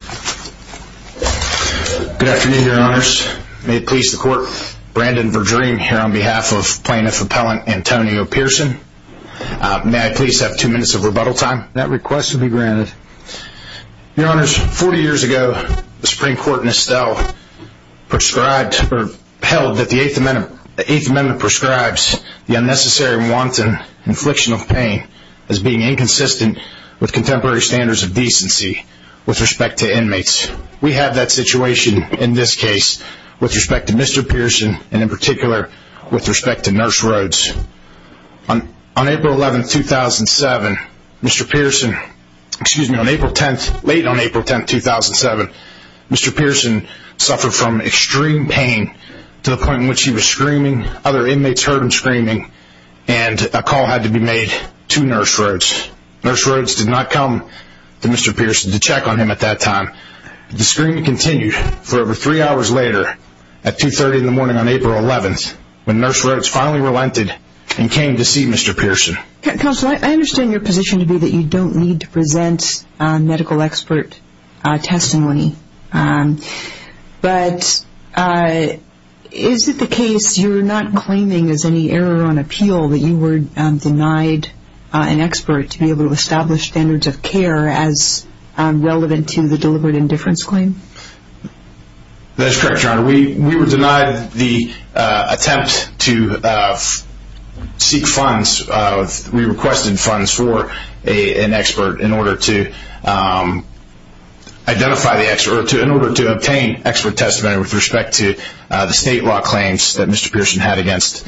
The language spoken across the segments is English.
Good afternoon, Your Honors. May it please the Court, Brandon Verdream here on behalf of Plaintiff Appellant Antonio Pearson. May I please have two minutes of rebuttal time? That request will be granted. Your Honors, forty years ago, the Supreme Court in Estelle prescribed or held that the Eighth Amendment prescribes the unnecessary, wanton infliction of pain as being inconsistent with contemporary standards of decency with respect to inmates. We have that situation in this case with respect to Mr. Pearson and in particular with respect to Nurse Rhodes. On April 11, 2007, Mr. Pearson, excuse me, late on April 10, 2007, Mr. Pearson suffered from extreme pain to the point in which he was screaming, other inmates heard him screaming and a call had to be made to Nurse Rhodes. Nurse Rhodes did not come to Mr. Pearson to check on him at that time. The screaming continued for over three hours later at 2.30 in the morning on April 11th when Nurse Rhodes finally relented and came to see Mr. Pearson. Counselor, I understand your position to be that you don't need to present medical expert testimony, but is it the case you're not claiming as any error on appeal that you were denied an expert to be able to establish standards of care as relevant to the deliberate indifference claim? That is correct, Your Honor. We were denied the attempt to seek funds. We requested funds for an expert in order to identify the expert, in order to obtain expert testimony with respect to the state law claims that Mr. Pearson had against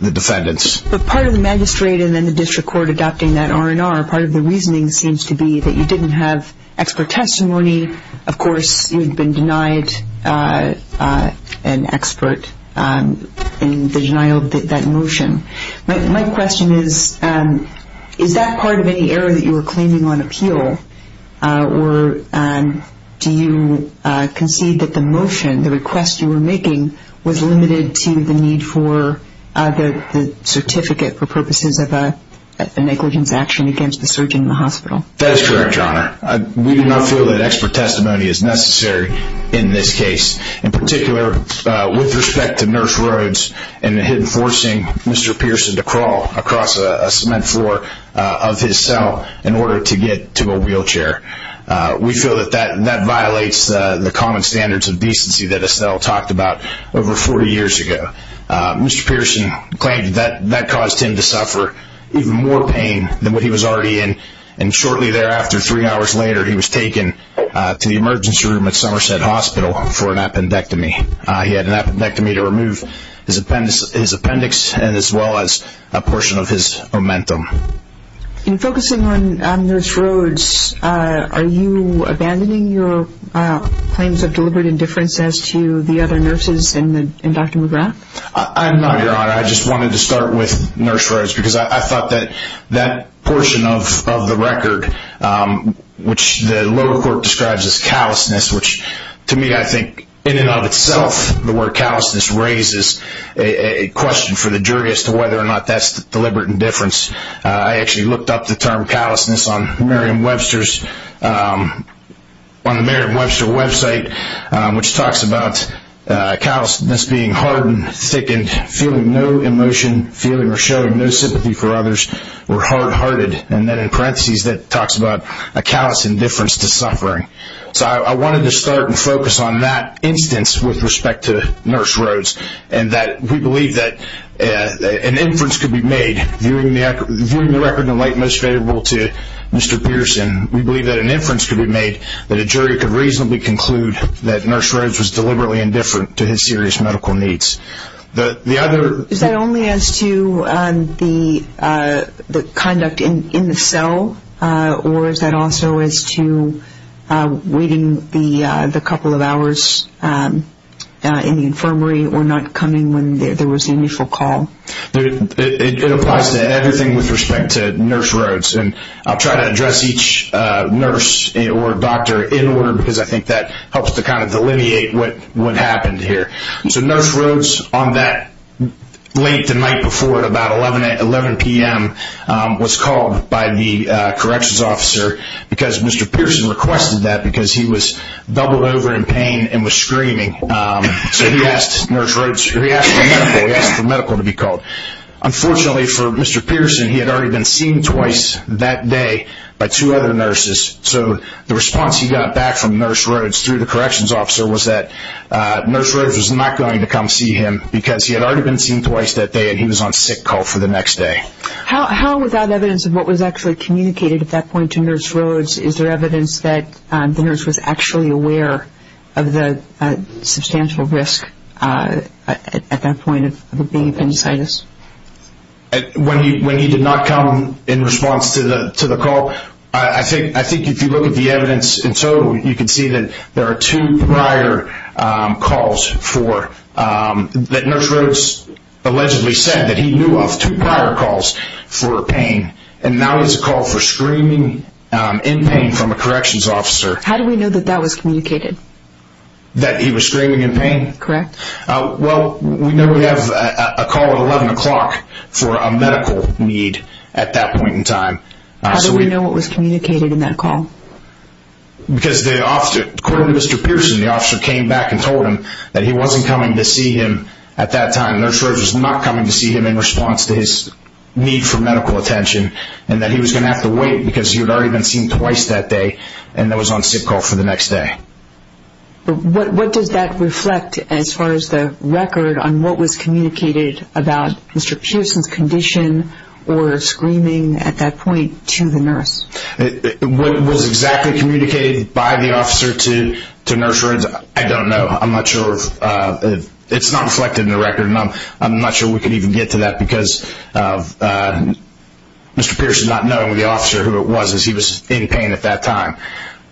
the defendants. But part of the magistrate and then the district court adopting that R&R, part of the reasoning seems to be that you didn't have expert testimony. Of course, you'd been denied an expert in the denial of that motion. My question is, is that part of any error that you were claiming on appeal, or do you concede that the motion, the request you were making, was limited to the need for the certificate for purposes of a negligence action against the surgeon in the hospital? That is correct, Your Honor. We do not feel that expert testimony is necessary in this case. In particular, with respect to Nurse Rhodes and him forcing Mr. Pearson to crawl across a cement floor of his cell in order to get to a wheelchair, we feel that that violates the common standards of decency that Estelle talked about over 40 years ago. Mr. Pearson claimed that that caused him to suffer even more pain than what he was already in, and shortly thereafter, three hours later, he was taken to the emergency room at Somerset Hospital for an appendectomy. He had an appendectomy to remove his appendix, as well as a portion of his omentum. In focusing on Nurse Rhodes, are you abandoning your claims of deliberate indifference as to the other nurses and Dr. McGrath? I am not, Your Honor. I just wanted to start with Nurse Rhodes because I thought that that portion of the record, which the lower court describes as callousness, which to me, I think, in and of itself, the word callousness raises a question for the jury as to whether or not that's deliberate indifference. I actually looked up the term callousness on Merriam-Webster's, on the Merriam-Webster website, which talks about callousness being hardened, thickened, feeling no emotion, feeling or showing no sympathy for others, or hard-hearted, and then in parentheses, that talks about a callous indifference to suffering. So I wanted to start and focus on that instance with respect to Nurse Rhodes, and that we believe that an inference could be made, viewing the record in the light most favorable to Mr. Pearson, we believe that an inference could be made, that a jury could reasonably conclude that Nurse Rhodes was deliberately indifferent to his serious medical needs. Is that only as to the conduct in the cell, or is that also as to waiting the couple of hours in the infirmary, or not coming when there was an initial call? It applies to everything with respect to Nurse Rhodes, and I'll try to address each nurse or doctor in order, because I think that helps to kind of delineate what happened here. So Nurse Rhodes, on that late the night before at about 11 p.m., was called by the corrections officer, because Mr. Pearson requested that, because he was doubled over in pain and was screaming. So he asked for medical to be called. Unfortunately for Mr. Pearson, he had already been seen twice that day by two other nurses, so the response he got back from Nurse Rhodes through the corrections officer was that Nurse Rhodes was not going to come see him, because he had already been seen twice that day and he was on sick call for the next day. How, without evidence of what was actually communicated at that point to Nurse Rhodes, is there evidence that the nurse was actually aware of the substantial risk at that point of being appendicitis? When he did not come in response to the call, I think if you look at the evidence in total, you can see that there are two prior calls for, that Nurse Rhodes allegedly said that he knew of, two prior calls for pain, and now he has a call for screaming in pain from a corrections officer. How do we know that that was communicated? That he was screaming in pain? Correct. Well, we know we have a call at 11 o'clock for a medical need at that point in time. How do we know what was communicated in that call? Because the officer, according to Mr. Pearson, the officer came back and told him that he wasn't coming to see him at that time. Nurse Rhodes was not coming to see him in response to his need for medical attention, and that he was going to have to wait because he had already been seen twice that day and was on sick call for the next day. What does that reflect as far as the record on what was communicated about Mr. Pearson's condition or screaming at that point to the nurse? What was exactly communicated by the officer to Nurse Rhodes, I don't know. I'm not sure if, it's not reflected in the record, and I'm not sure we can even get to that because Mr. Pearson not knowing the officer who it was as he was in pain at that time.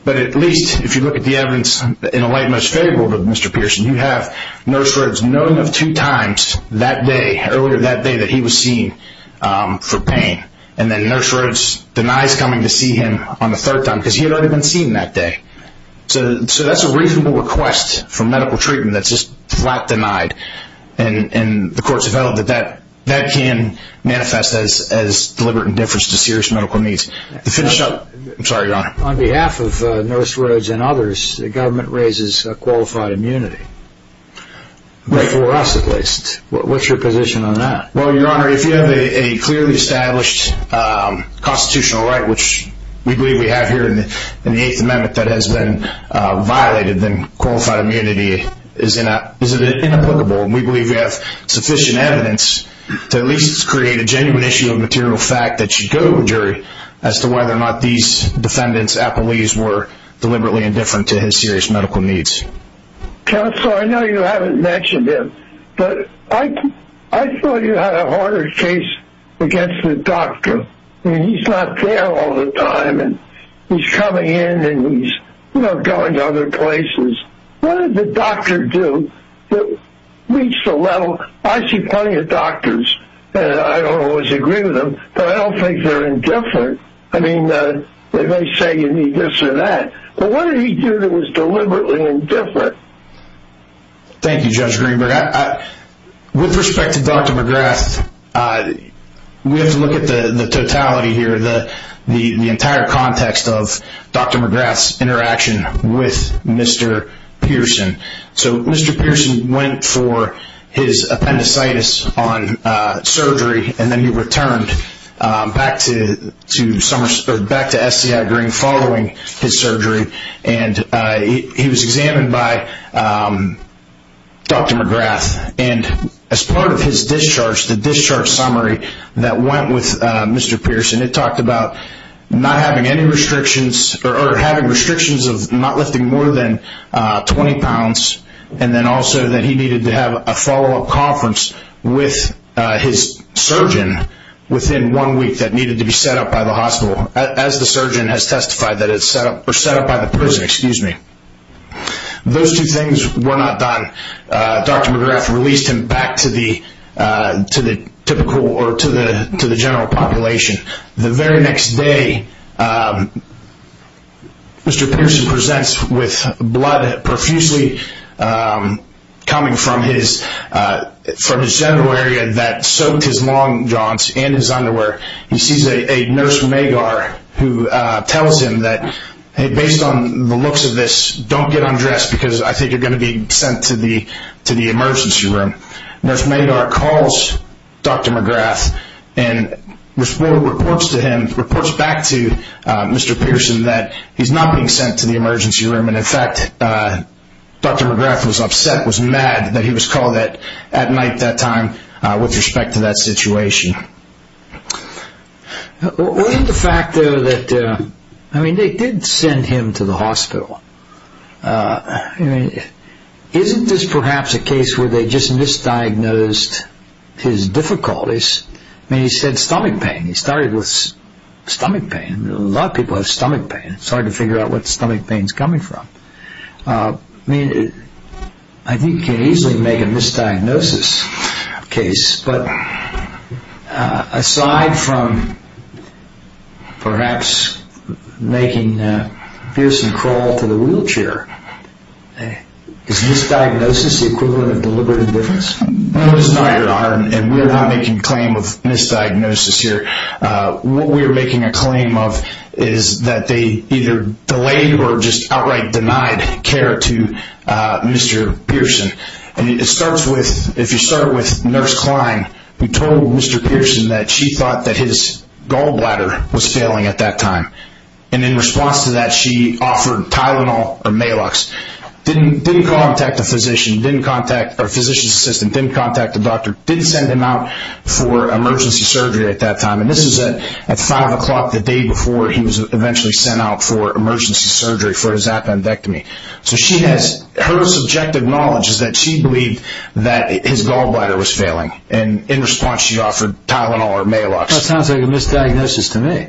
But at least, if you look at the evidence in a late-match favorable to Mr. Pearson, you have Nurse Rhodes knowing of two times that day, earlier that day, that he was seen for pain, and then Nurse Rhodes denies coming to see him on the third time because he had already been seen that day. So that's a reasonable request for medical treatment that's just flat denied, and the courts have held that that can manifest as deliberate indifference to serious medical needs. On behalf of Nurse Rhodes and others, the government raises qualified immunity, for us at least. What's your position on that? Well, Your Honor, if you have a clearly established constitutional right, which we believe we have here in the Eighth Amendment that has been violated, then qualified immunity is inapplicable, and we believe we have sufficient evidence to at least create a genuine issue of material fact that should go to a jury as to whether or not these defendants, appellees, were deliberately indifferent to his serious medical needs. Counsel, I know you haven't mentioned him, but I thought you had a harder case against the doctor. I mean, he's not there all the time, and he's coming in, and he's, you know, going to other places. What did the doctor do to reach the level? Well, I see plenty of doctors, and I don't always agree with them, but I don't think they're indifferent. I mean, they may say you need this or that, but what did he do that was deliberately indifferent? Thank you, Judge Greenberg. With respect to Dr. McGrath, we have to look at the totality here, the entire context of Dr. McGrath's interaction with Mr. Pearson. So Mr. Pearson went for his appendicitis on surgery, and then he returned back to SDI Green following his surgery, and he was examined by Dr. McGrath. And as part of his discharge, the discharge summary that went with Mr. Pearson, it talked about not having any restrictions, or having restrictions of not lifting more than 20 pounds, and then also that he needed to have a follow-up conference with his surgeon within one week that needed to be set up by the hospital, as the surgeon has testified that it's set up, or set up by the prison, excuse me. Those two things were not done. Dr. McGrath released him back to the typical or to the hospital, and the very next day, Mr. Pearson presents with blood profusely coming from his genital area that soaked his long jaunts and his underwear. He sees a nurse who tells him that based on the looks of this, don't get undressed because I think you're going to be sent to the emergency room. Nurse Madar calls Dr. McGrath and reports to him, reports back to Mr. Pearson that he's not being sent to the emergency room, and in fact, Dr. McGrath was upset, was mad that he was called at night that time with respect to that situation. What is the fact, though, that, I mean, they did send him to the hospital. I mean, isn't this perhaps a case where they just misdiagnosed his difficulties? I mean, he said stomach pain. He started with stomach pain. A lot of people have stomach pain. It's hard to figure out what stomach pain is coming from. I mean, I think you can easily make a misdiagnosis case, but aside from perhaps making Pearson crawl to the wheelchair, is misdiagnosis the equivalent of deliberate indifference? No, it's not, Your Honor, and we're not making a claim of misdiagnosis here. What we're making a claim of is that they either delayed or just outright denied care to Mr. Pearson. And it starts with, if you start with Nurse Klein, who told Mr. Pearson that she thought that his Tylenol or Maalox didn't contact a physician, didn't contact a physician's assistant, didn't contact a doctor, didn't send him out for emergency surgery at that time. And this is at 5 o'clock the day before he was eventually sent out for emergency surgery for his appendectomy. So she has, her subjective knowledge is that she believed that his gallbladder was failing, and in response she offered Tylenol or Maalox. That sounds like a misdiagnosis to me.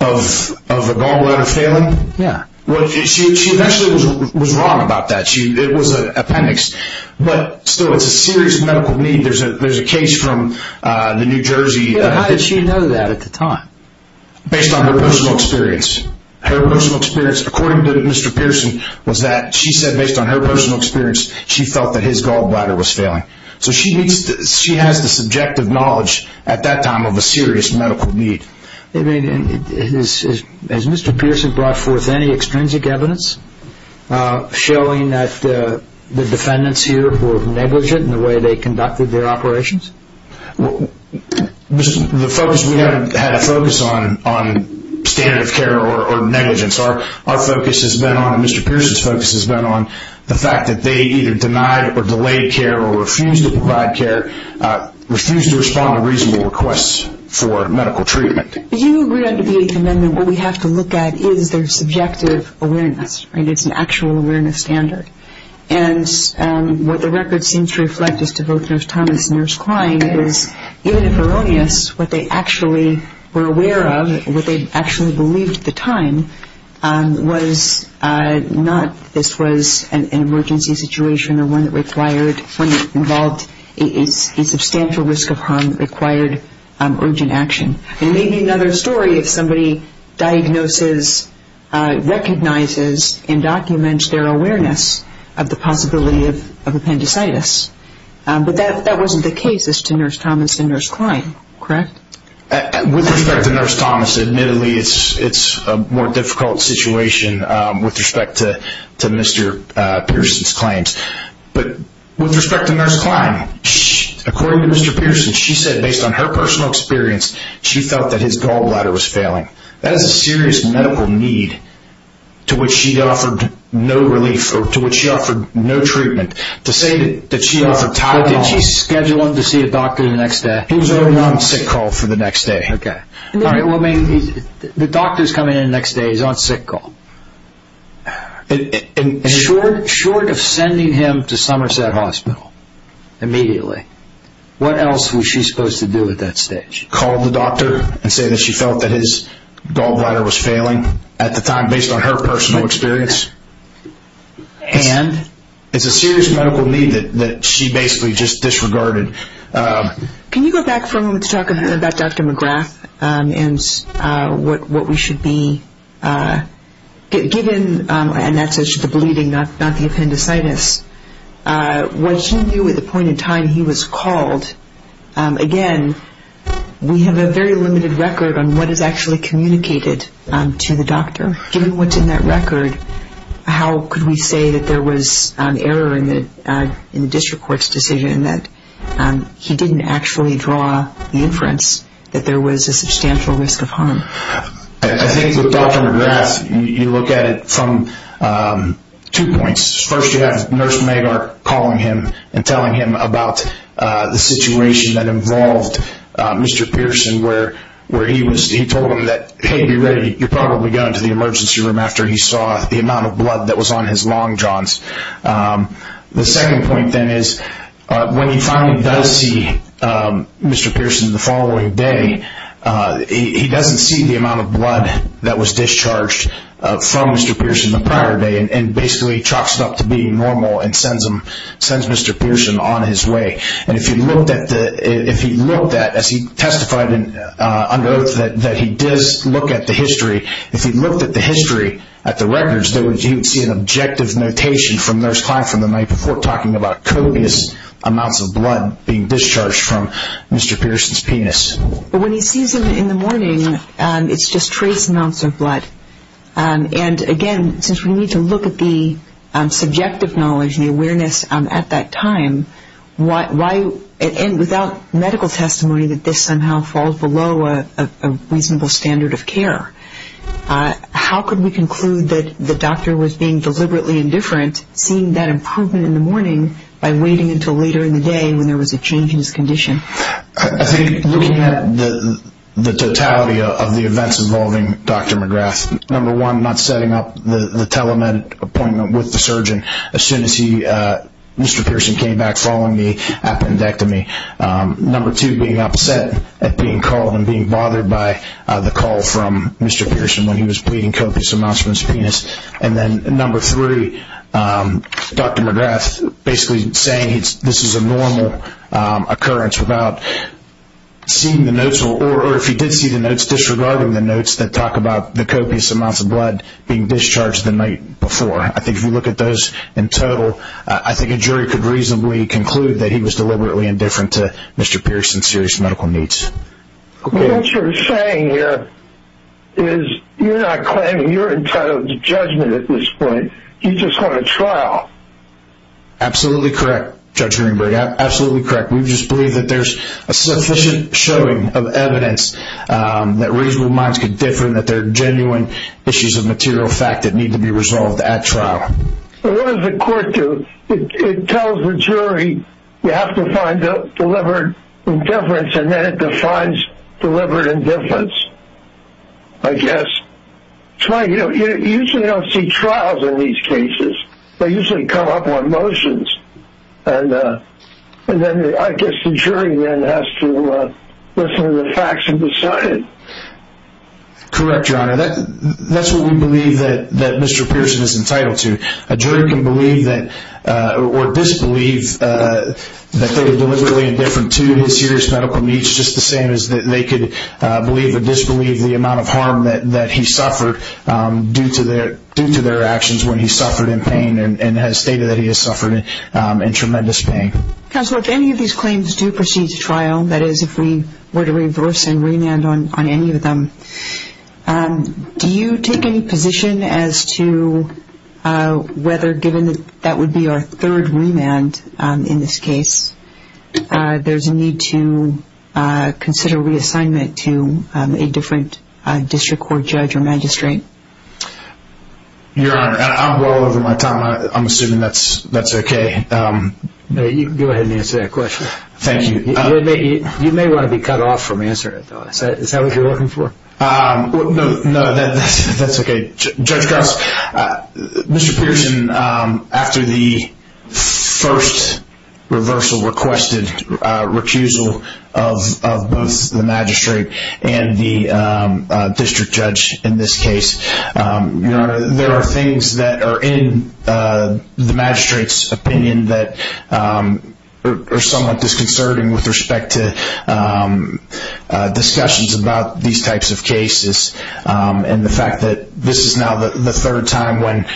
Of the gallbladder failing? Yeah. Well, she eventually was wrong about that. It was an appendix. But still, it's a serious medical need. There's a case from the New Jersey... How did she know that at the time? Based on her personal experience. Her personal experience, according to Mr. Pearson, was that she said based on her personal experience she felt that his gallbladder was failing. So she has the subjective knowledge at that time of a serious medical need. Has Mr. Pearson brought forth any extrinsic evidence showing that the defendants here were negligent in the way they conducted their operations? The focus, we haven't had a focus on standard of care or negligence. Our focus has been on, and Mr. Pearson's focus has been on, the fact that they either denied or delayed care or refused to provide care, refused to respond to reasonable requests for medical treatment. You agree under VA's amendment what we have to look at is their subjective awareness. It's an actual awareness standard. And what the record seems to reflect as to both Nurse Thomas and Nurse Klein is, even if erroneous, what they actually were aware of, what they actually believed at the time, was not this was an emergency situation or one that required, one that involved a substantial risk of harm that required urgent action. And it may be another story if somebody diagnoses, recognizes, and documents their awareness of the possibility of appendicitis. But that wasn't the case as to Nurse Thomas and Nurse Klein, correct? With respect to Nurse Thomas, admittedly it's a more difficult situation with respect to Mr. Pearson's claims. But with respect to Nurse Klein, according to Mr. Pearson, she said based on her personal experience she felt that his gallbladder was failing. That is a serious medical need to which she offered no relief, or to which she offered no treatment. To say that she offered Tylenol. Did she schedule him to see a doctor the next day? He was already on sick call for the next day. Okay. Well, I mean, the doctor's coming in the next day. He's on sick call. Short of sending him to Somerset Hospital immediately, what else was she supposed to do at that stage? Call the doctor and say that she felt that his gallbladder was failing at the time based on her personal experience. And? It's a serious medical need that she basically just disregarded. Can you go back for a moment to talk about Dr. McGrath and what we should be given, and that's the bleeding, not the appendicitis, what should we do at the point in time he was called? Again, we have a very limited record on what is actually communicated to the doctor. Given what's in that record, how could we say that there was an error in the district court's decision and that he didn't actually draw the inference that there was a substantial risk of harm? I think with Dr. McGrath, you look at it from two points. First, you have Nurse Magar calling him and telling him about the situation that involved Mr. Pearson, where he told him that, hey, be ready, you're probably going to the emergency room after he saw the amount of blood that was on his long johns. The second point, then, is when he finally does see Mr. Pearson the following day, he doesn't see the amount of blood that was discharged from Mr. Pearson the prior day and basically chalks it up to being normal and sends Mr. Pearson on his way. And if he looked at, as he testified under oath, that he did look at the history, if he looked at the history at the records, you would see an objective notation from Nurse Klein from the night before talking about copious amounts of blood being discharged from Mr. Pearson's penis. But when he sees him in the morning, it's just trace amounts of blood. And, again, since we need to look at the subjective knowledge and the awareness at that time, and without medical testimony that this somehow falls below a reasonable standard of care, how could we conclude that the doctor was being deliberately indifferent, seeing that improvement in the morning, by waiting until later in the day when there was a change in his condition? I think looking at the totality of the events involving Dr. McGrath, number one, not setting up the telemed appointment with the surgeon. As soon as Mr. Pearson came back following the appendectomy. Number two, being upset at being called and being bothered by the call from Mr. Pearson when he was bleeding copious amounts from his penis. And then number three, Dr. McGrath basically saying this is a normal occurrence without seeing the notes, or if he did see the notes, disregarding the notes that talk about the copious amounts of blood being discharged the night before. I think if you look at those in total, I think a jury could reasonably conclude that he was deliberately indifferent to Mr. Pearson's serious medical needs. What you're saying here is you're not claiming you're entitled to judgment at this point. You just want a trial. Absolutely correct, Judge Greenberg. Absolutely correct. We just believe that there's a sufficient showing of evidence that reasonable minds can differ and that there are genuine issues of material fact that need to be resolved at trial. What does the court do? It tells the jury you have to find deliberate indifference, and then it defines deliberate indifference, I guess. It's funny, you usually don't see trials in these cases. They usually come up on motions. I guess the jury then has to listen to the facts and decide. Correct, Your Honor. That's what we believe that Mr. Pearson is entitled to. A jury can believe or disbelieve that they were deliberately indifferent to his serious medical needs just the same as they could believe or disbelieve the amount of harm that he suffered due to their actions when he suffered in pain and has stated that he has suffered in tremendous pain. Counselor, if any of these claims do proceed to trial, that is if we were to reverse and remand on any of them, do you take any position as to whether, given that that would be our third remand in this case, there's a need to consider reassignment to a different district court judge or magistrate? Your Honor, I'm well over my time. I'm assuming that's okay. You can go ahead and answer that question. Thank you. You may want to be cut off from answering it, though. Is that what you're looking for? No, that's okay. Judge Goss, Mr. Pearson, after the first reversal requested, recusal of both the magistrate and the district judge in this case, there are things that are in the magistrate's opinion that are somewhat disconcerting with respect to discussions about these types of cases and the fact that this is now the third time when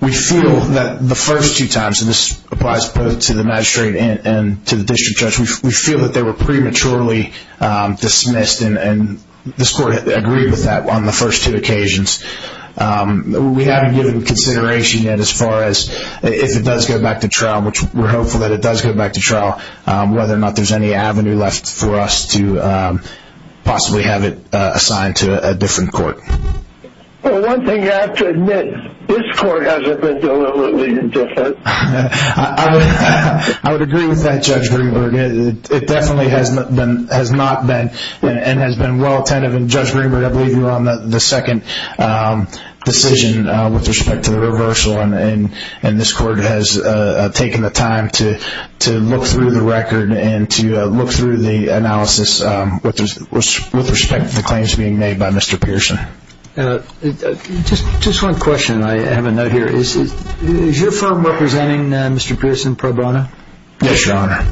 we feel that the first two times, and this applies both to the magistrate and to the district judge, we feel that they were prematurely dismissed, and this Court agreed with that on the first two occasions. We haven't given consideration yet as far as if it does go back to trial, whether or not there's any avenue left for us to possibly have it assigned to a different court. Well, one thing you have to admit, this court hasn't been deliberately indifferent. I would agree with that, Judge Greenberg. It definitely has not been and has been well attentive, and Judge Greenberg, I believe you were on the second decision with respect to the reversal, and this court has taken the time to look through the record and to look through the analysis with respect to the claims being made by Mr. Pearson. Just one question I have a note here. Is your firm representing Mr. Pearson pro bono? Yes, Your Honor.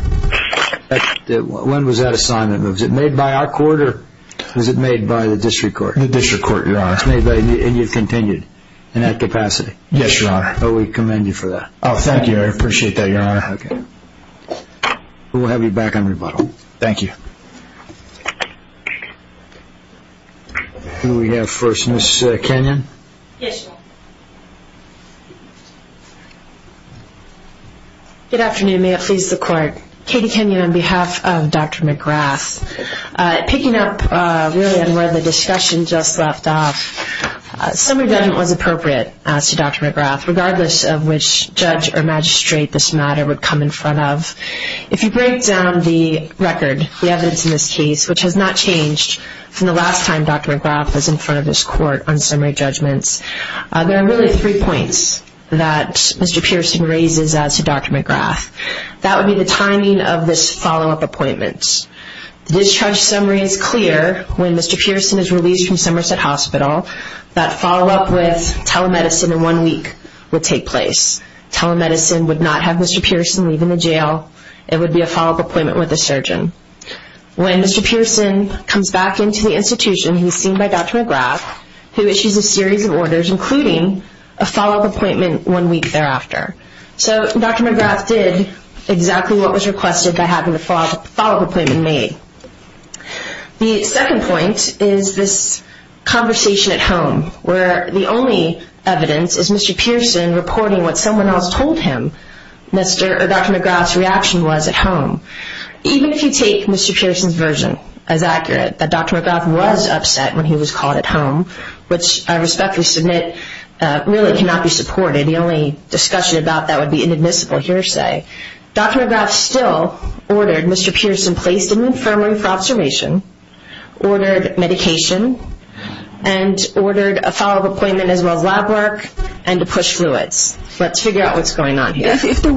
When was that assignment made? Was it made by our court or was it made by the district court? The district court, Your Honor. And you've continued in that capacity? Yes, Your Honor. Well, we commend you for that. Oh, thank you. I appreciate that, Your Honor. Okay. We'll have you back on rebuttal. Thank you. Can we have First Miss Kenyon? Yes, Your Honor. Good afternoon. May it please the court. Katie Kenyon on behalf of Dr. McGrath. Picking up really on where the discussion just left off, summary judgment was appropriate as to Dr. McGrath, regardless of which judge or magistrate this matter would come in front of. If you break down the record, the evidence in this case, which has not changed from the last time Dr. McGrath was in front of this court on summary judgments, there are really three points that Mr. Pearson raises as to Dr. McGrath. That would be the timing of this follow-up appointment. The discharge summary is clear. When Mr. Pearson is released from Somerset Hospital, that follow-up with telemedicine in one week would take place. Telemedicine would not have Mr. Pearson leave in the jail. It would be a follow-up appointment with a surgeon. When Mr. Pearson comes back into the institution, he's seen by Dr. McGrath, who issues a series of orders, including a follow-up appointment one week thereafter. So Dr. McGrath did exactly what was requested by having the follow-up appointment made. The second point is this conversation at home, where the only evidence is Mr. Pearson reporting what someone else told him, or Dr. McGrath's reaction was at home. Even if you take Mr. Pearson's version as accurate, that Dr. McGrath was upset when he was called at home, which I respectfully submit really cannot be supported. The only discussion about that would be inadmissible hearsay. Dr. McGrath still ordered Mr. Pearson placed in the infirmary for observation, ordered medication, and ordered a follow-up appointment as well as lab work, and to push fluids. Let's figure out what's going on here. If there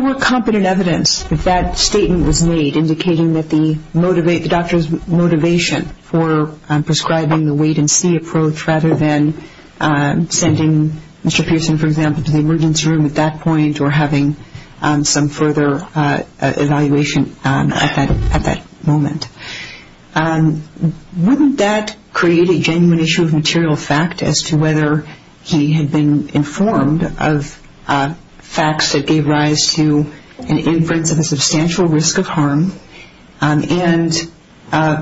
were competent evidence that that statement was made, indicating that the doctor's motivation for prescribing the wait-and-see approach, rather than sending Mr. Pearson, for example, to the emergency room at that point or having some further evaluation at that moment, wouldn't that create a genuine issue of material fact as to whether he had been informed of facts that gave rise to an inference of a substantial risk of harm, and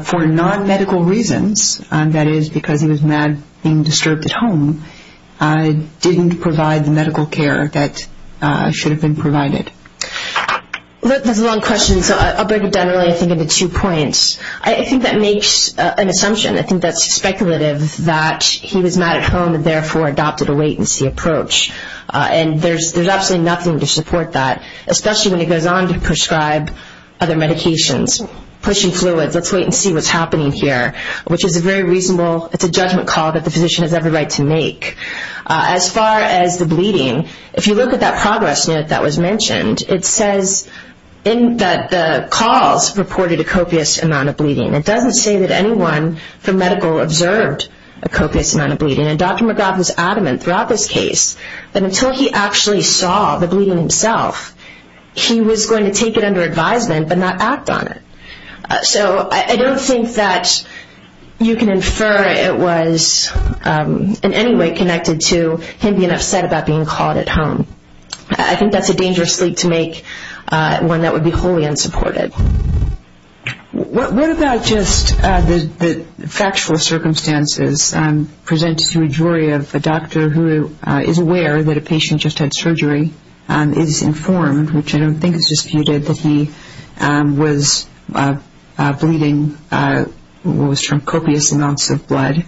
for non-medical reasons, that is because he was mad being disturbed at home, didn't provide the medical care that should have been provided? That's a long question, so I'll break it down really I think into two points. I think that makes an assumption. I think that's speculative that he was mad at home and therefore adopted a wait-and-see approach. And there's absolutely nothing to support that, especially when it goes on to prescribe other medications, pushing fluids, let's wait and see what's happening here, which is a very reasonable, it's a judgment call that the physician has every right to make. As far as the bleeding, if you look at that progress note that was mentioned, it says that the calls reported a copious amount of bleeding. It doesn't say that anyone from medical observed a copious amount of bleeding, and Dr. McGrath was adamant throughout this case that until he actually saw the bleeding himself, he was going to take it under advisement but not act on it. So I don't think that you can infer it was in any way connected to him being upset about being called at home. I think that's a dangerous leap to make, one that would be wholly unsupported. What about just the factual circumstances presented to a jury of a doctor who is aware that a patient just had surgery, is informed, which I don't think is disputed that he was bleeding what was termed copious amounts of blood,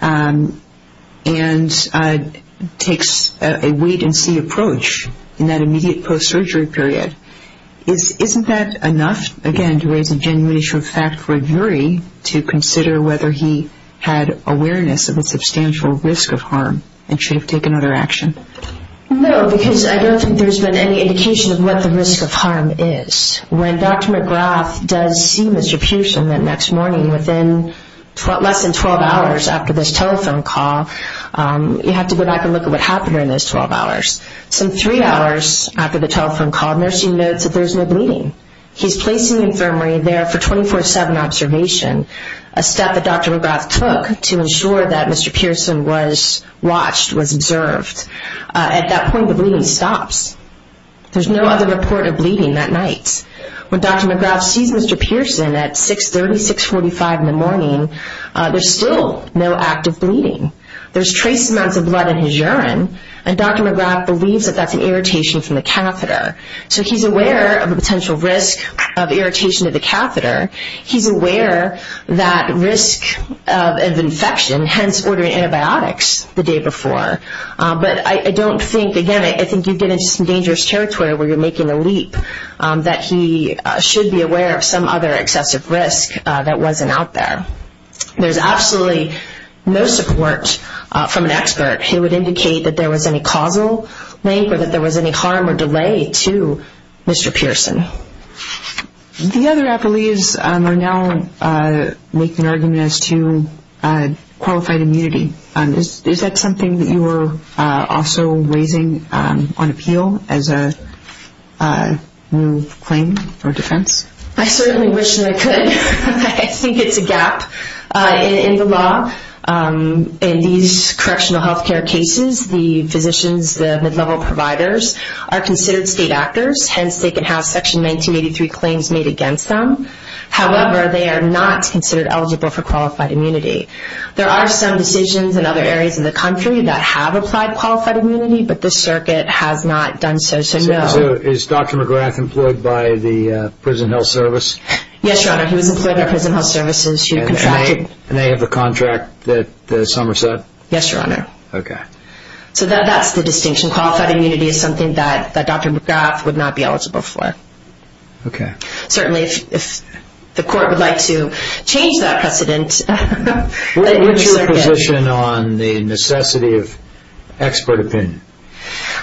and takes a wait-and-see approach in that immediate post-surgery period? Isn't that enough, again, to raise a genuine issue of fact for a jury to consider whether he had awareness of the substantial risk of harm and should have taken other action? No, because I don't think there's been any indication of what the risk of harm is. When Dr. McGrath does see Mr. Pearson the next morning, within less than 12 hours after this telephone call, you have to go back and look at what happened during those 12 hours. Some three hours after the telephone call, the nurse notes that there's no bleeding. He's placing the infirmary there for 24-7 observation, a step that Dr. McGrath took to ensure that Mr. Pearson was watched, was observed. At that point, the bleeding stops. There's no other report of bleeding that night. When Dr. McGrath sees Mr. Pearson at 6.30, 6.45 in the morning, there's still no active bleeding. There's trace amounts of blood in his urine, and Dr. McGrath believes that that's an irritation from the catheter. So he's aware of a potential risk of irritation of the catheter. He's aware that risk of infection, hence ordering antibiotics the day before. But I don't think, again, I think you get into some dangerous territory where you're making a leap that he should be aware of some other excessive risk that wasn't out there. There's absolutely no support from an expert who would indicate that there was any causal link or that there was any harm or delay to Mr. Pearson. The other appellees are now making arguments to qualified immunity. Is that something that you are also raising on appeal as a new claim or defense? I certainly wish that I could. I think it's a gap in the law. In these correctional health care cases, the physicians, the mid-level providers, are considered state actors. Hence, they can have Section 1983 claims made against them. However, they are not considered eligible for qualified immunity. There are some decisions in other areas of the country that have applied qualified immunity, but this circuit has not done so, so no. So is Dr. McGrath employed by the Prison Health Service? Yes, Your Honor, he was employed by Prison Health Services. And they have the contract that Summers said? Yes, Your Honor. Okay. So that's the distinction. Qualified immunity is something that Dr. McGrath would not be eligible for. Certainly, if the court would like to change that precedent. What's your position on the necessity of expert opinion?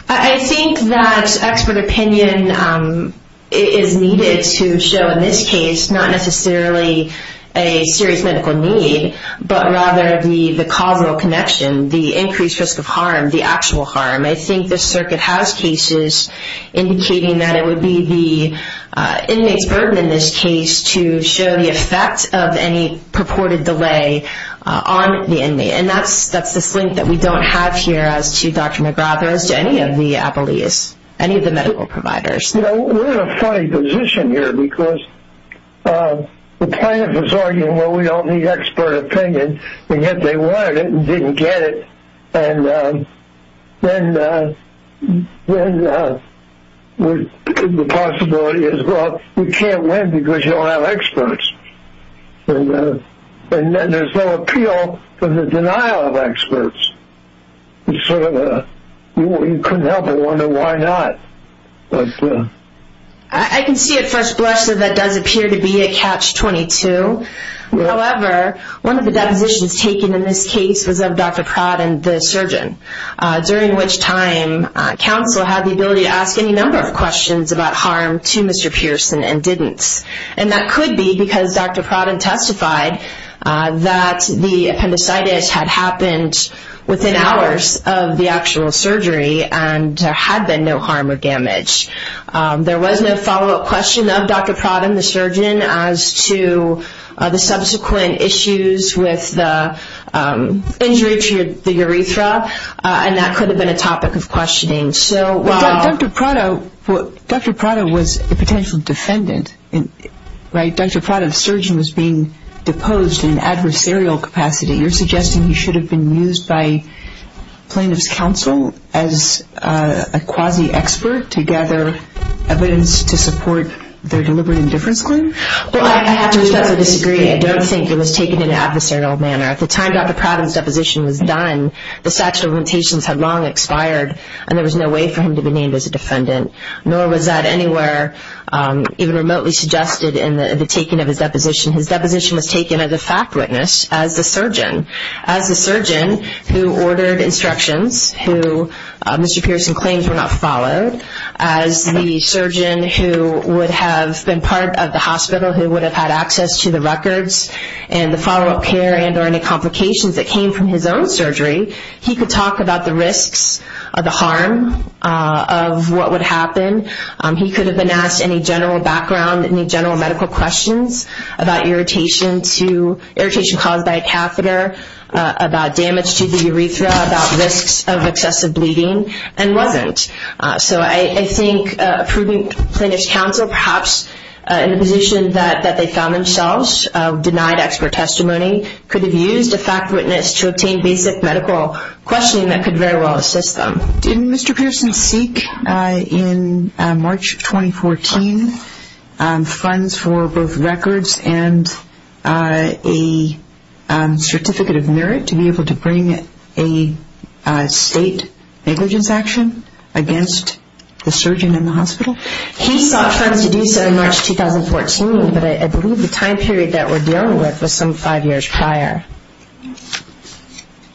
I think that expert opinion is needed to show in this case that it's not necessarily a serious medical need, but rather the causal connection, the increased risk of harm, the actual harm. I think this circuit has cases indicating that it would be the inmate's burden in this case to show the effect of any purported delay on the inmate. And that's this link that we don't have here as to Dr. McGrath or as to any of the appellees, any of the medical providers. You know, we're in a funny position here because the plaintiff is arguing, well, we don't need expert opinion, and yet they wanted it and didn't get it. And then the possibility is, well, you can't win because you don't have experts. And there's no appeal for the denial of experts. You couldn't help but wonder why not. I can see at first blush that that does appear to be a catch-22. However, one of the depositions taken in this case was of Dr. Pratt and the surgeon, during which time counsel had the ability to ask any number of questions about harm to Mr. Pearson and didn't. And that could be because Dr. Pratt had testified that the appendicitis had happened within hours of the actual surgery and there had been no harm or damage. There was no follow-up question of Dr. Pratt and the surgeon as to the subsequent issues with the injury to the urethra, Dr. Pratt was a potential defendant, right? Dr. Pratt and the surgeon was being deposed in adversarial capacity. You're suggesting he should have been used by plaintiff's counsel as a quasi-expert to gather evidence to support their deliberate indifference claim? Well, I have to respectfully disagree. I don't think it was taken in an adversarial manner. At the time Dr. Pratt and his deposition was done, the statute of limitations had long expired and there was no way for him to be named as a defendant, nor was that anywhere even remotely suggested in the taking of his deposition. His deposition was taken as a fact witness as the surgeon. As the surgeon who ordered instructions, who Mr. Pearson claims were not followed, as the surgeon who would have been part of the hospital, who would have had access to the records and the follow-up care and or any complications that came from his own surgery, he could talk about the risks or the harm of what would happen. He could have been asked any general background, any general medical questions about irritation caused by a catheter, about damage to the urethra, about risks of excessive bleeding, and wasn't. So I think approving plaintiff's counsel, perhaps in the position that they found themselves, denied expert testimony, could have used a fact witness to obtain basic medical questioning that could very well assist them. Didn't Mr. Pearson seek in March 2014 funds for both records and a certificate of merit to be able to bring a state negligence action against the surgeon in the hospital? He sought funds to do so in March 2014, but I believe the time period that we're dealing with was some five years prior.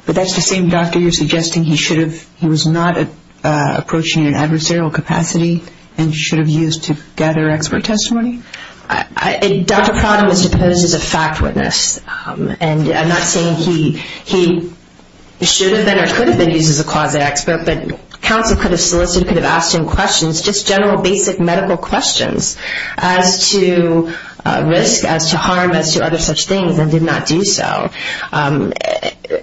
But that's the same doctor you're suggesting he should have, he was not approaching in an adversarial capacity and should have used to gather expert testimony? Dr. Prada was deposed as a fact witness. And I'm not saying he should have been or could have been used as a closet expert, but counsel could have solicited, could have asked him questions, just general basic medical questions as to risk, as to harm, as to other such things, and did not do so.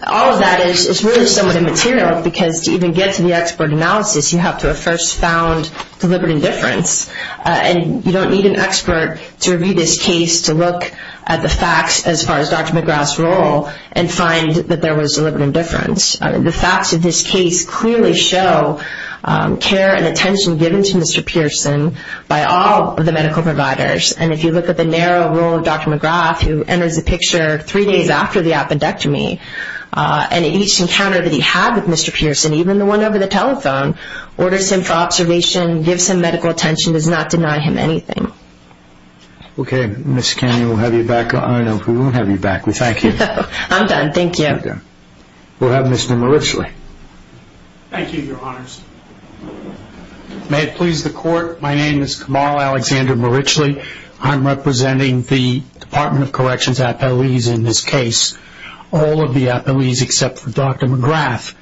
All of that is really somewhat immaterial, because to even get to the expert analysis, you have to have first found deliberate indifference, and you don't need an expert to review this case to look at the facts as far as Dr. McGrath's role and find that there was deliberate indifference. The facts of this case clearly show care and attention given to Mr. Pearson by all of the medical providers. And if you look at the narrow role of Dr. McGrath, who enters the picture three days after the appendectomy, and each encounter that he had with Mr. Pearson, even the one over the telephone, orders him for observation, gives him medical attention, does not deny him anything. Okay. Ms. Canyon, we'll have you back. We won't have you back. We thank you. I'm done. Thank you. We'll have Mr. Marichli. Thank you, Your Honors. May it please the Court, my name is Kamal Alexander Marichli. I'm representing the Department of Corrections' appellees in this case, all of the appellees except for Dr. McGrath.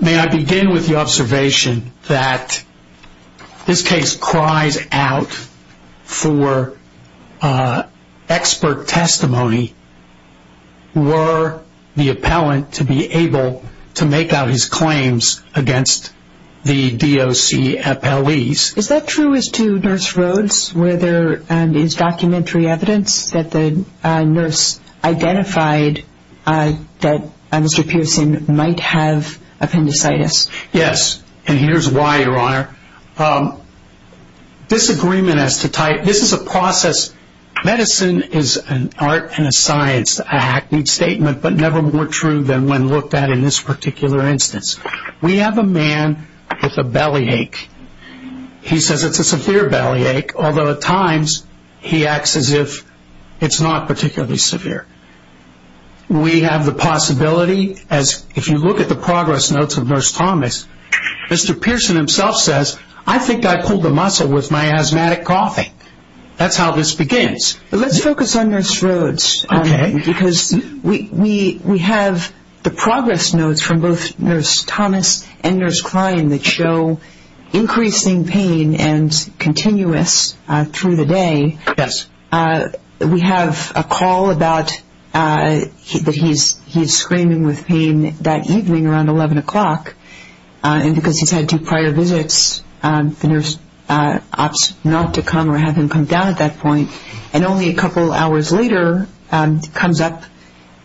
May I begin with the observation that this case cries out for expert testimony. Were the appellant to be able to make out his claims against the DOC appellees? Is that true as to Nurse Rhodes, where there is documentary evidence that the nurse identified that Mr. Pearson might have appendicitis? Yes, and here's why, Your Honor. Disagreement as to type, this is a process. Medicine is an art and a science, a hackneyed statement, but never more true than when looked at in this particular instance. We have a man with a bellyache. He says it's a severe bellyache, although at times he acts as if it's not particularly severe. We have the possibility, as if you look at the progress notes of Nurse Thomas, Mr. Pearson himself says, I think I pulled a muscle with my asthmatic coughing. That's how this begins. Let's focus on Nurse Rhodes because we have the progress notes from both Nurse Thomas and Nurse Klein that show increasing pain and continuous through the day. We have a call that he's screaming with pain that evening around 11 o'clock, and because he's had two prior visits, the nurse opts not to come or have him come down at that point, and only a couple hours later comes up,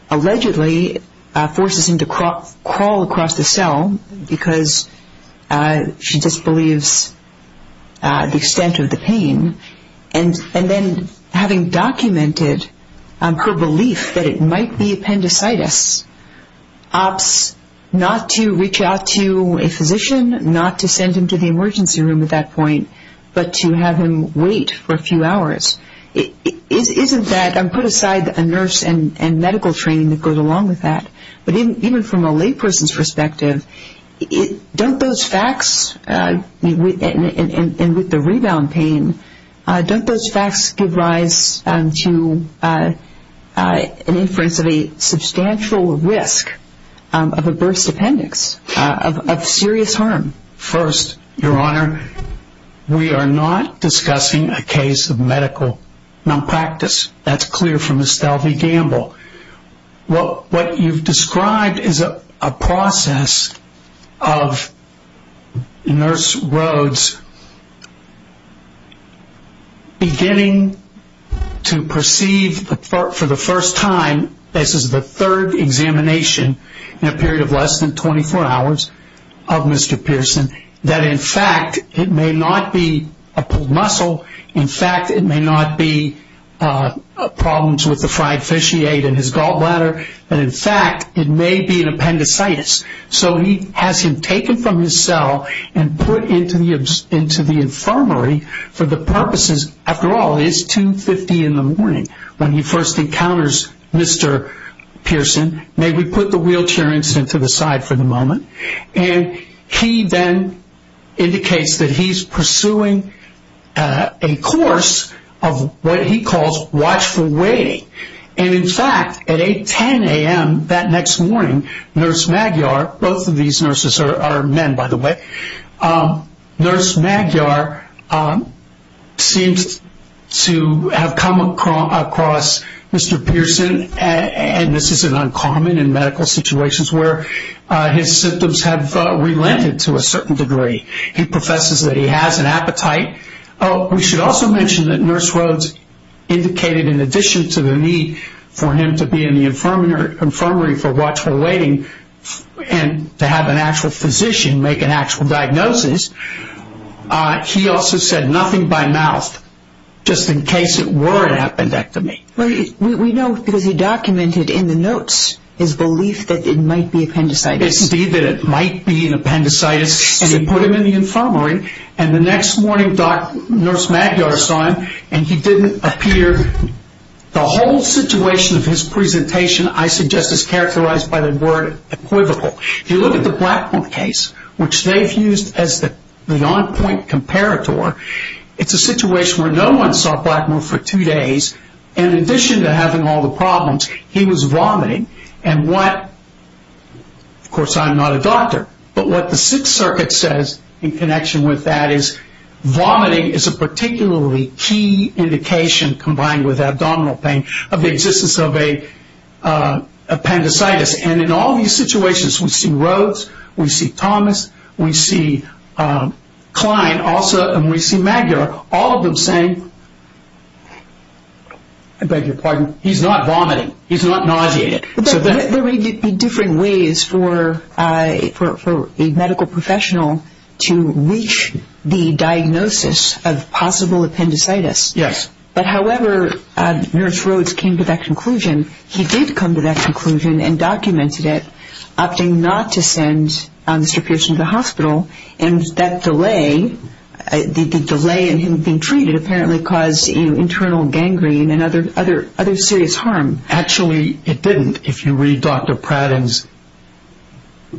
allegedly forces him to crawl across the cell because she disbelieves the extent of the pain, and then having documented her belief that it might be appendicitis, opts not to reach out to a physician, not to send him to the emergency room at that point, but to have him wait for a few hours. Isn't that, put aside a nurse and medical training that goes along with that, but even from a layperson's perspective, don't those facts, and with the rebound pain, don't those facts give rise to an inference of a substantial risk of a burst appendix, of serious harm? First, Your Honor, we are not discussing a case of medical nonpractice. That's clear from Estelle V. Gamble. What you've described is a process of nurse Rhodes beginning to perceive for the first time, this is the third examination in a period of less than 24 hours, of Mr. Pearson, that in fact it may not be a pulled muscle, in fact it may not be problems with the fried fish he ate in his gallbladder, and in fact it may be an appendicitis. So he has him taken from his cell and put into the infirmary for the purposes, after all it is 2.50 in the morning when he first encounters Mr. Pearson. May we put the wheelchair incident to the side for the moment. And he then indicates that he's pursuing a course of what he calls watchful waiting. And in fact at 8.10 a.m. that next morning, Nurse Magyar, both of these nurses are men by the way, Nurse Magyar seems to have come across Mr. Pearson, and this is an uncommon in medical situations where his symptoms have relented to a certain degree. He professes that he has an appetite. We should also mention that Nurse Rhodes indicated in addition to the need for him to be in the infirmary for watchful waiting and to have an actual physician make an actual diagnosis, he also said nothing by mouth just in case it were an appendectomy. We know because he documented in the notes his belief that it might be appendicitis. Indeed that it might be an appendicitis, and he put him in the infirmary, and the next morning Nurse Magyar saw him and he didn't appear. The whole situation of his presentation I suggest is characterized by the word equivocal. If you look at the Blackmore case, which they've used as the on-point comparator, it's a situation where no one saw Blackmore for two days, and in addition to having all the problems, he was vomiting, and what, of course I'm not a doctor, but what the Sixth Circuit says in connection with that is vomiting is a particularly key indication combined with abdominal pain of the existence of appendicitis, and in all these situations we see Rhodes, we see Thomas, we see Klein also, and we see Magyar, all of them saying, I beg your pardon, he's not vomiting, he's not nauseated. There may be different ways for a medical professional to reach the diagnosis of possible appendicitis, but however Nurse Rhodes came to that conclusion, he did come to that conclusion and documented it, opting not to send Mr. Pearson to the hospital, and that delay in him being treated apparently caused internal gangrene and other serious harm. Actually, it didn't. If you read Dr. Pratton's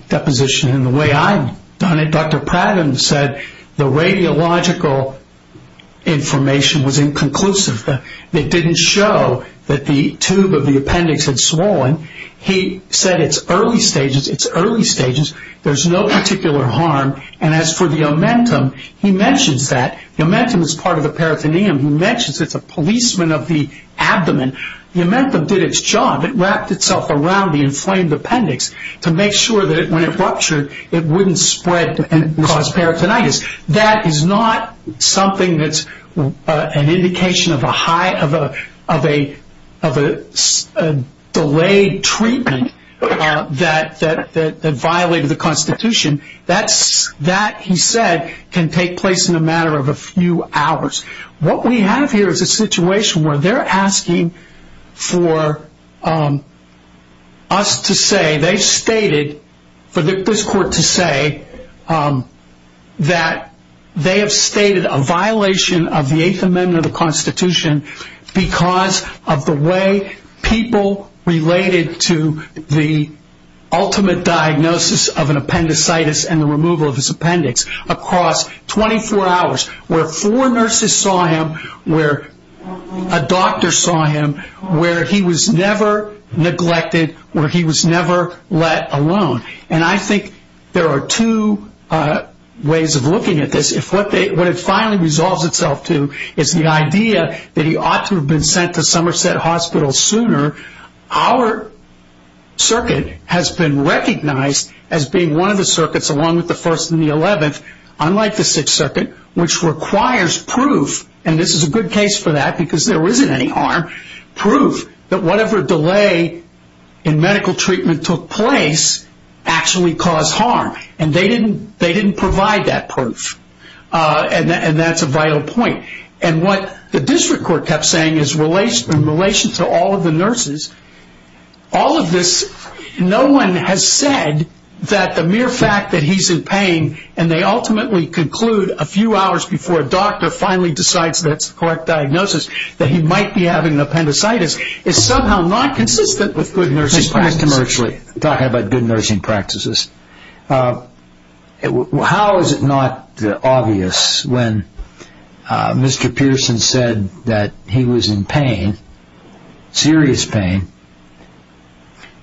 deposition and the way I've done it, Dr. Pratton said the radiological information was inconclusive. It didn't show that the tube of the appendix had swollen. He said it's early stages, it's early stages, there's no particular harm, and as for the omentum, he mentions that. The omentum is part of the peritoneum. He mentions it's a policeman of the abdomen. The omentum did its job. It wrapped itself around the inflamed appendix to make sure that when it ruptured, it wouldn't spread and cause peritonitis. That is not something that's an indication of a delayed treatment that violated the Constitution. That, he said, can take place in a matter of a few hours. What we have here is a situation where they're asking for us to say, they've stated, for this court to say, that they have stated a violation of the Eighth Amendment of the Constitution because of the way people related to the ultimate diagnosis of an appendicitis and the removal of his appendix across 24 hours, where four nurses saw him, where a doctor saw him, where he was never neglected, where he was never let alone. And I think there are two ways of looking at this. What it finally resolves itself to is the idea that he ought to have been sent to Somerset Hospital sooner. Our circuit has been recognized as being one of the circuits, along with the First and the Eleventh, unlike the Sixth Circuit, which requires proof, and this is a good case for that because there isn't any harm, proof that whatever delay in medical treatment took place actually caused harm. And they didn't provide that proof. And that's a vital point. And what the district court kept saying in relation to all of the nurses, all of this, no one has said that the mere fact that he's in pain, and they ultimately conclude a few hours before a doctor finally decides that's the correct diagnosis, that he might be having an appendicitis, is somehow not consistent with good nursing practices. Let's go back to talking about good nursing practices. How is it not obvious when Mr. Pearson said that he was in pain, serious pain,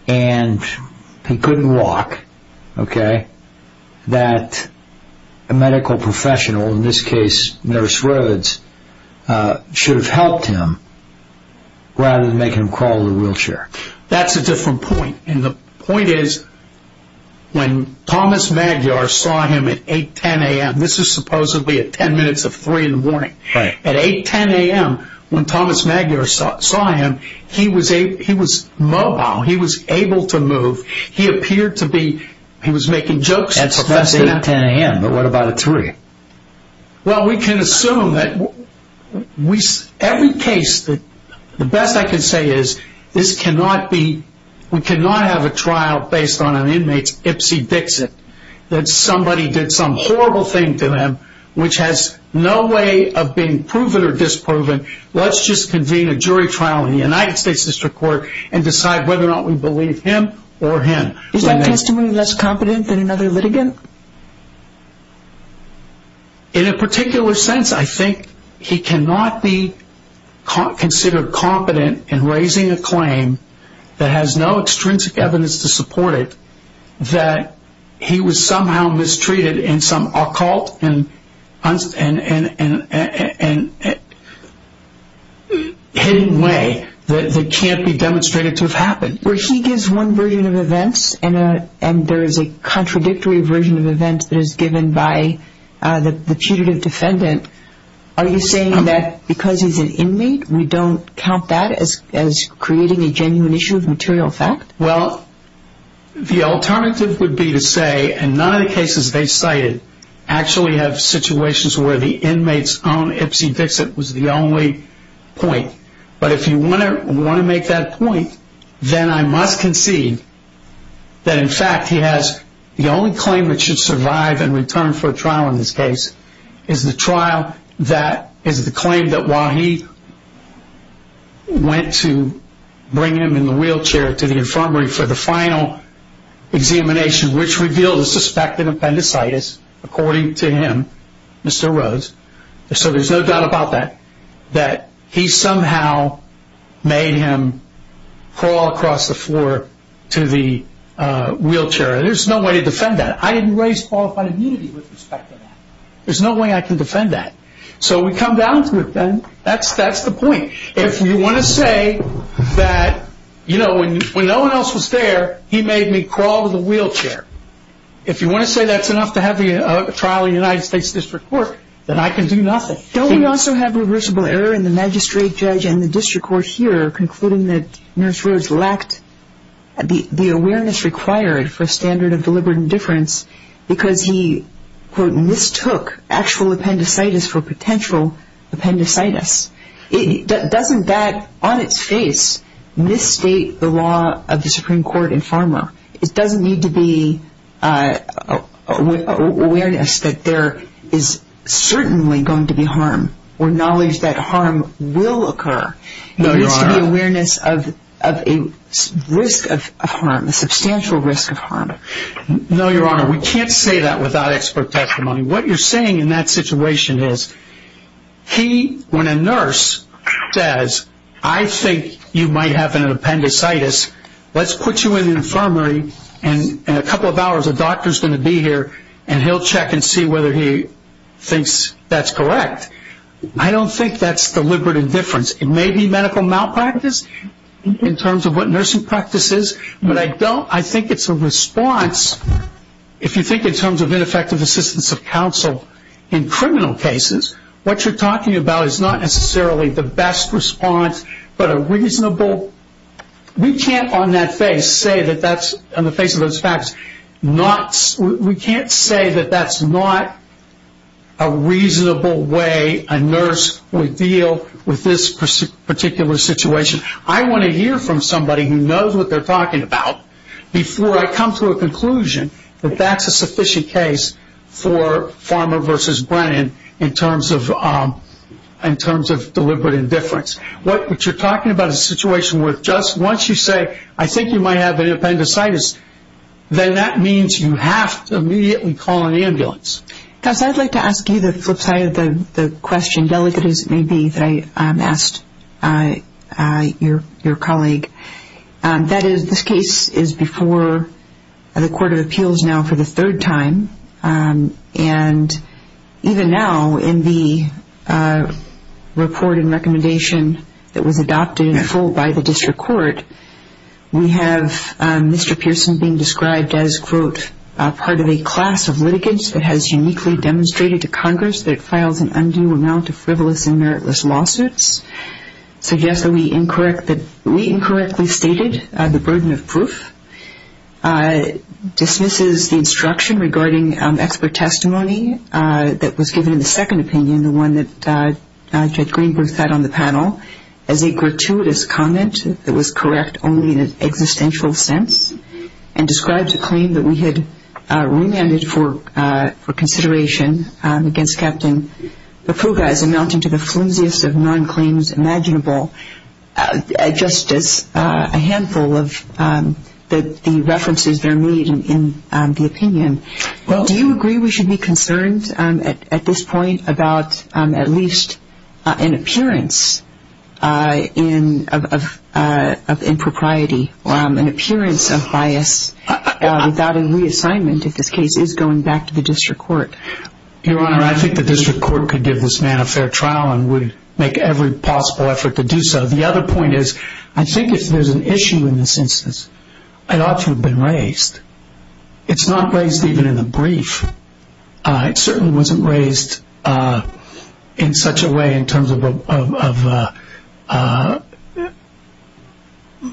and he couldn't walk, okay, that a medical professional, in this case Nurse Rhodes, should have helped him rather than make him crawl in a wheelchair? That's a different point. And the point is when Thomas Magyar saw him at 8, 10 a.m. This is supposedly at ten minutes to three in the morning. At 8, 10 a.m. when Thomas Magyar saw him, he was mobile. He was able to move. He appeared to be making jokes. That's 8, 10 a.m., but what about at three? Well, we can assume that every case, the best I can say is this cannot be, we cannot have a trial based on an inmate's ipsy dixit that somebody did some horrible thing to him which has no way of being proven or disproven. Let's just convene a jury trial in the United States District Court and decide whether or not we believe him or him. Is that testimony less competent than another litigant? In a particular sense, I think he cannot be considered competent in raising a claim that has no extrinsic evidence to support it that he was somehow mistreated in some occult and hidden way that can't be demonstrated to have happened. Where he gives one version of events and there is a contradictory version of events that is given by the putative defendant, are you saying that because he's an inmate, we don't count that as creating a genuine issue of material fact? Well, the alternative would be to say, and none of the cases they cited actually have situations where the inmate's own ipsy dixit was the only point. But if you want to make that point, then I must concede that in fact he has, the only claim that should survive and return for a trial in this case is the claim that while he went to bring him in the wheelchair to the infirmary for the final examination which revealed a suspected appendicitis, according to him, Mr. Rose, so there's no doubt about that, that he somehow made him crawl across the floor to the wheelchair. There's no way to defend that. I didn't raise qualified immunity with respect to that. There's no way I can defend that. So we come down to it then. That's the point. If you want to say that, you know, when no one else was there, he made me crawl to the wheelchair. If you want to say that's enough to have a trial in the United States District Court, then I can do nothing. Don't we also have reversible error in the magistrate judge and the district court here concluding that Nurse Rose lacked the awareness required for a standard of deliberate indifference because he, quote, mistook actual appendicitis for potential appendicitis. Doesn't that on its face misstate the law of the Supreme Court in Pharma? It doesn't need to be awareness that there is certainly going to be harm or knowledge that harm will occur. No, you are not. There needs to be awareness of a risk of harm, a substantial risk of harm. No, Your Honor, we can't say that without expert testimony. What you're saying in that situation is he, when a nurse says, I think you might have an appendicitis, let's put you in the infirmary and in a couple of hours a doctor is going to be here and he'll check and see whether he thinks that's correct. I don't think that's deliberate indifference. It may be medical malpractice in terms of what nursing practice is, but I don't, I think it's a response, if you think in terms of ineffective assistance of counsel in criminal cases, what you're talking about is not necessarily the best response, but a reasonable, we can't on that face say that that's, on the face of those facts, we can't say that that's not a reasonable way a nurse would deal with this particular situation. I want to hear from somebody who knows what they're talking about before I come to a conclusion that that's a sufficient case for Farmer v. Brennan in terms of deliberate indifference. What you're talking about is a situation where just once you say, I think you might have an appendicitis, then that means you have to immediately call an ambulance. Cass, I'd like to ask you the flip side of the question, delicate as it may be, that I asked your colleague. That is, this case is before the Court of Appeals now for the third time, and even now in the report and recommendation that was adopted in full by the district court, we have Mr. Pearson being described as, quote, part of a class of litigants that has uniquely demonstrated to Congress that it files an undue amount of frivolous and meritless lawsuits, suggests that we incorrectly stated the burden of proof, dismisses the instruction regarding expert testimony that was given in the second opinion, the one that Judge Greenberg had on the panel, as a gratuitous comment that was correct only in an existential sense, and describes a claim that we had remanded for consideration against Captain Vepruga as amounting to the flimsiest of non-claims imaginable, just as a handful of the references there made in the opinion. Do you agree we should be concerned at this point about at least an appearance of impropriety or an appearance of bias without any reassignment if this case is going back to the district court? Your Honor, I think the district court could give this man a fair trial and would make every possible effort to do so. The other point is, I think if there's an issue in this instance, it ought to have been raised. It's not raised even in the brief. It certainly wasn't raised in such a way in terms of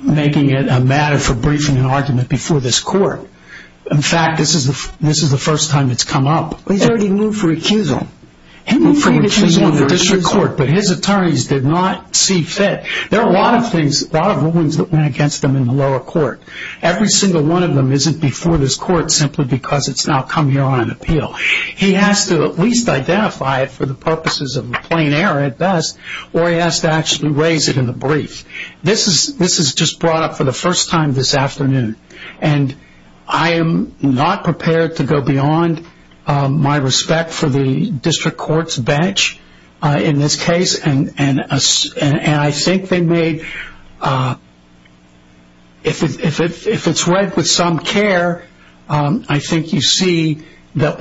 making it a matter for briefing an argument before this court. In fact, this is the first time it's come up. He's already moved for recusal. He moved for recusal in the district court, but his attorneys did not see fit. There are a lot of things, a lot of rulings that went against him in the lower court. Every single one of them isn't before this court simply because it's now come here on an appeal. He has to at least identify it for the purposes of a plain error at best, or he has to actually raise it in the brief. This is just brought up for the first time this afternoon, and I am not prepared to go beyond my respect for the district court's bench in this case. I think they made, if it's read with some care, I think you see that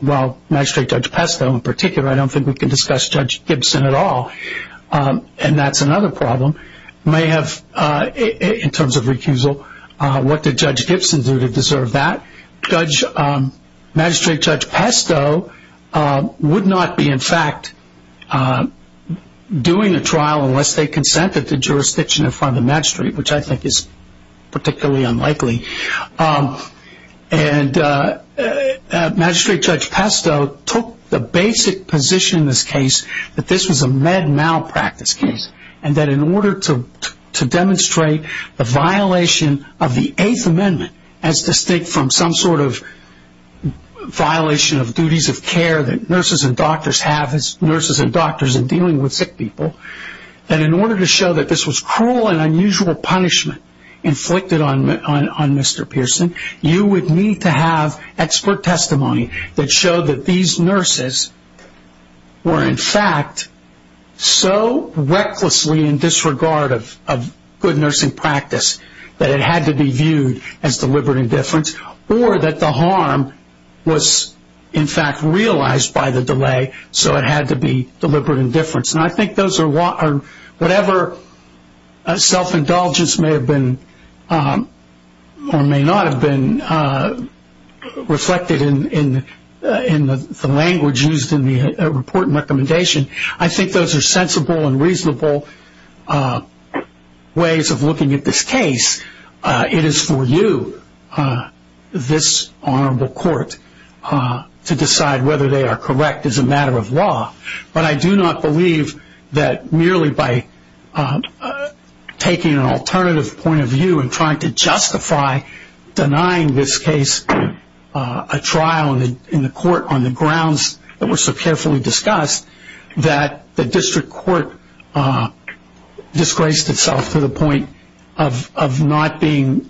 while magistrate Judge Pesto in particular, I don't think we can discuss Judge Gibson at all, and that's another problem, may have in terms of recusal, what did Judge Gibson do to deserve that? Magistrate Judge Pesto would not be in fact doing a trial unless they consented to jurisdiction in front of the magistrate, which I think is particularly unlikely. Magistrate Judge Pesto took the basic position in this case that this was a med malpractice case, and that in order to demonstrate the violation of the Eighth Amendment as distinct from some sort of violation of duties of care that nurses and doctors have, nurses and doctors in dealing with sick people, that in order to show that this was cruel and unusual punishment inflicted on Mr. Pearson, you would need to have expert testimony that showed that these nurses were in fact so recklessly in disregard of good nursing practice that it had to be viewed as deliberate indifference, or that the harm was in fact realized by the delay, so it had to be deliberate indifference. And I think those are whatever self-indulgence may have been or may not have been reflected in the language used in the report and recommendation. I think those are sensible and reasonable ways of looking at this case. It is for you, this honorable court, to decide whether they are correct as a matter of law. But I do not believe that merely by taking an alternative point of view and trying to justify denying this case a trial in the court on the grounds that were so carefully discussed, that the district court disgraced itself to the point of not being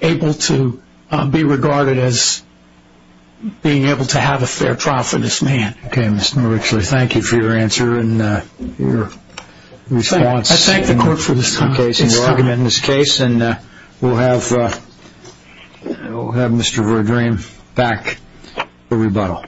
able to be regarded as being able to have a fair trial for this man. Okay, Mr. Richler, thank you for your answer and your response. I thank the court for this argument in this case, and we'll have Mr. Verdream back for rebuttal.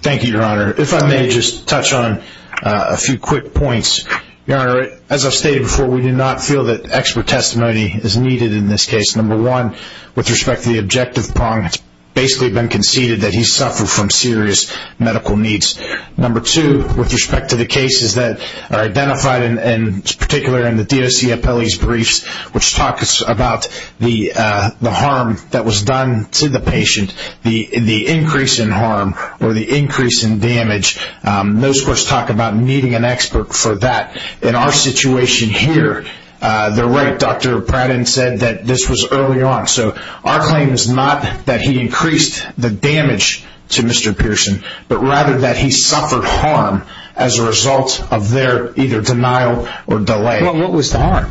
Thank you, Your Honor. If I may just touch on a few quick points. Your Honor, as I've stated before, we do not feel that expert testimony is needed in this case. Number one, with respect to the objective prong, it's basically been conceded that he suffered from serious medical needs. Number two, with respect to the cases that are identified in particular in the DOC appellee's briefs, which talk about the harm that was done to the patient, the increase in harm or the increase in damage, those courts talk about needing an expert for that. In our situation here, they're right. Dr. Pratt and said that this was early on. So our claim is not that he increased the damage to Mr. Pearson, but rather that he suffered harm as a result of their either denial or delay. Well, what was the harm?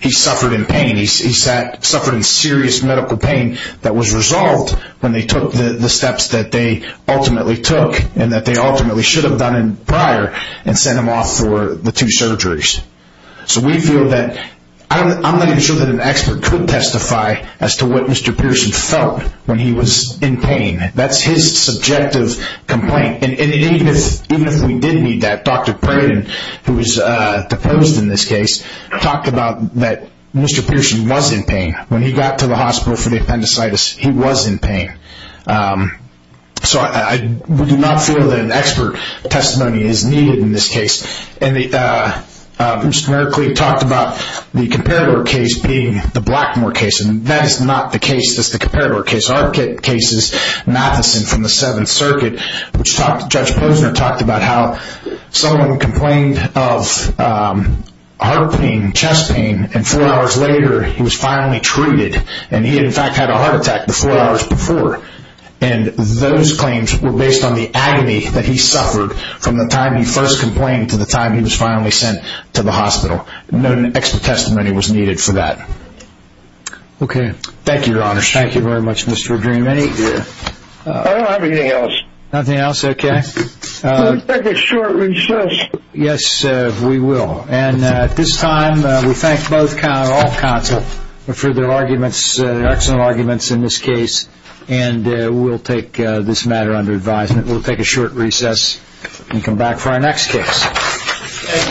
He suffered in pain. He suffered in serious medical pain that was resolved when they took the steps that they ultimately took and that they ultimately should have done prior and sent him off for the two surgeries. So we feel that I'm not even sure that an expert could testify as to what Mr. Pearson felt when he was in pain. That's his subjective complaint. And even if we did need that, Dr. Pratt, who was deposed in this case, talked about that Mr. Pearson was in pain. When he got to the hospital for the appendicitis, he was in pain. So I do not feel that an expert testimony is needed in this case. And Mr. Merkley talked about the comparator case being the Blackmore case. That is not the case that's the comparator case. Our case is Matheson from the Seventh Circuit, which Judge Posner talked about how someone complained of heart pain, chest pain, and four hours later he was finally treated. And he, in fact, had a heart attack the four hours before. And those claims were based on the agony that he suffered from the time he first complained to the time he was finally sent to the hospital. No expert testimony was needed for that. Okay. Thank you, Your Honor. Thank you very much, Mr. O'Dream. Anything else? I don't have anything else. Nothing else? Okay. Let's take a short recess. Yes, we will. And at this time we thank all counsel for their arguments, their excellent arguments in this case. And we'll take this matter under advisement. We'll take a short recess and come back for our next case. Thank you, Your Honor. Thank you.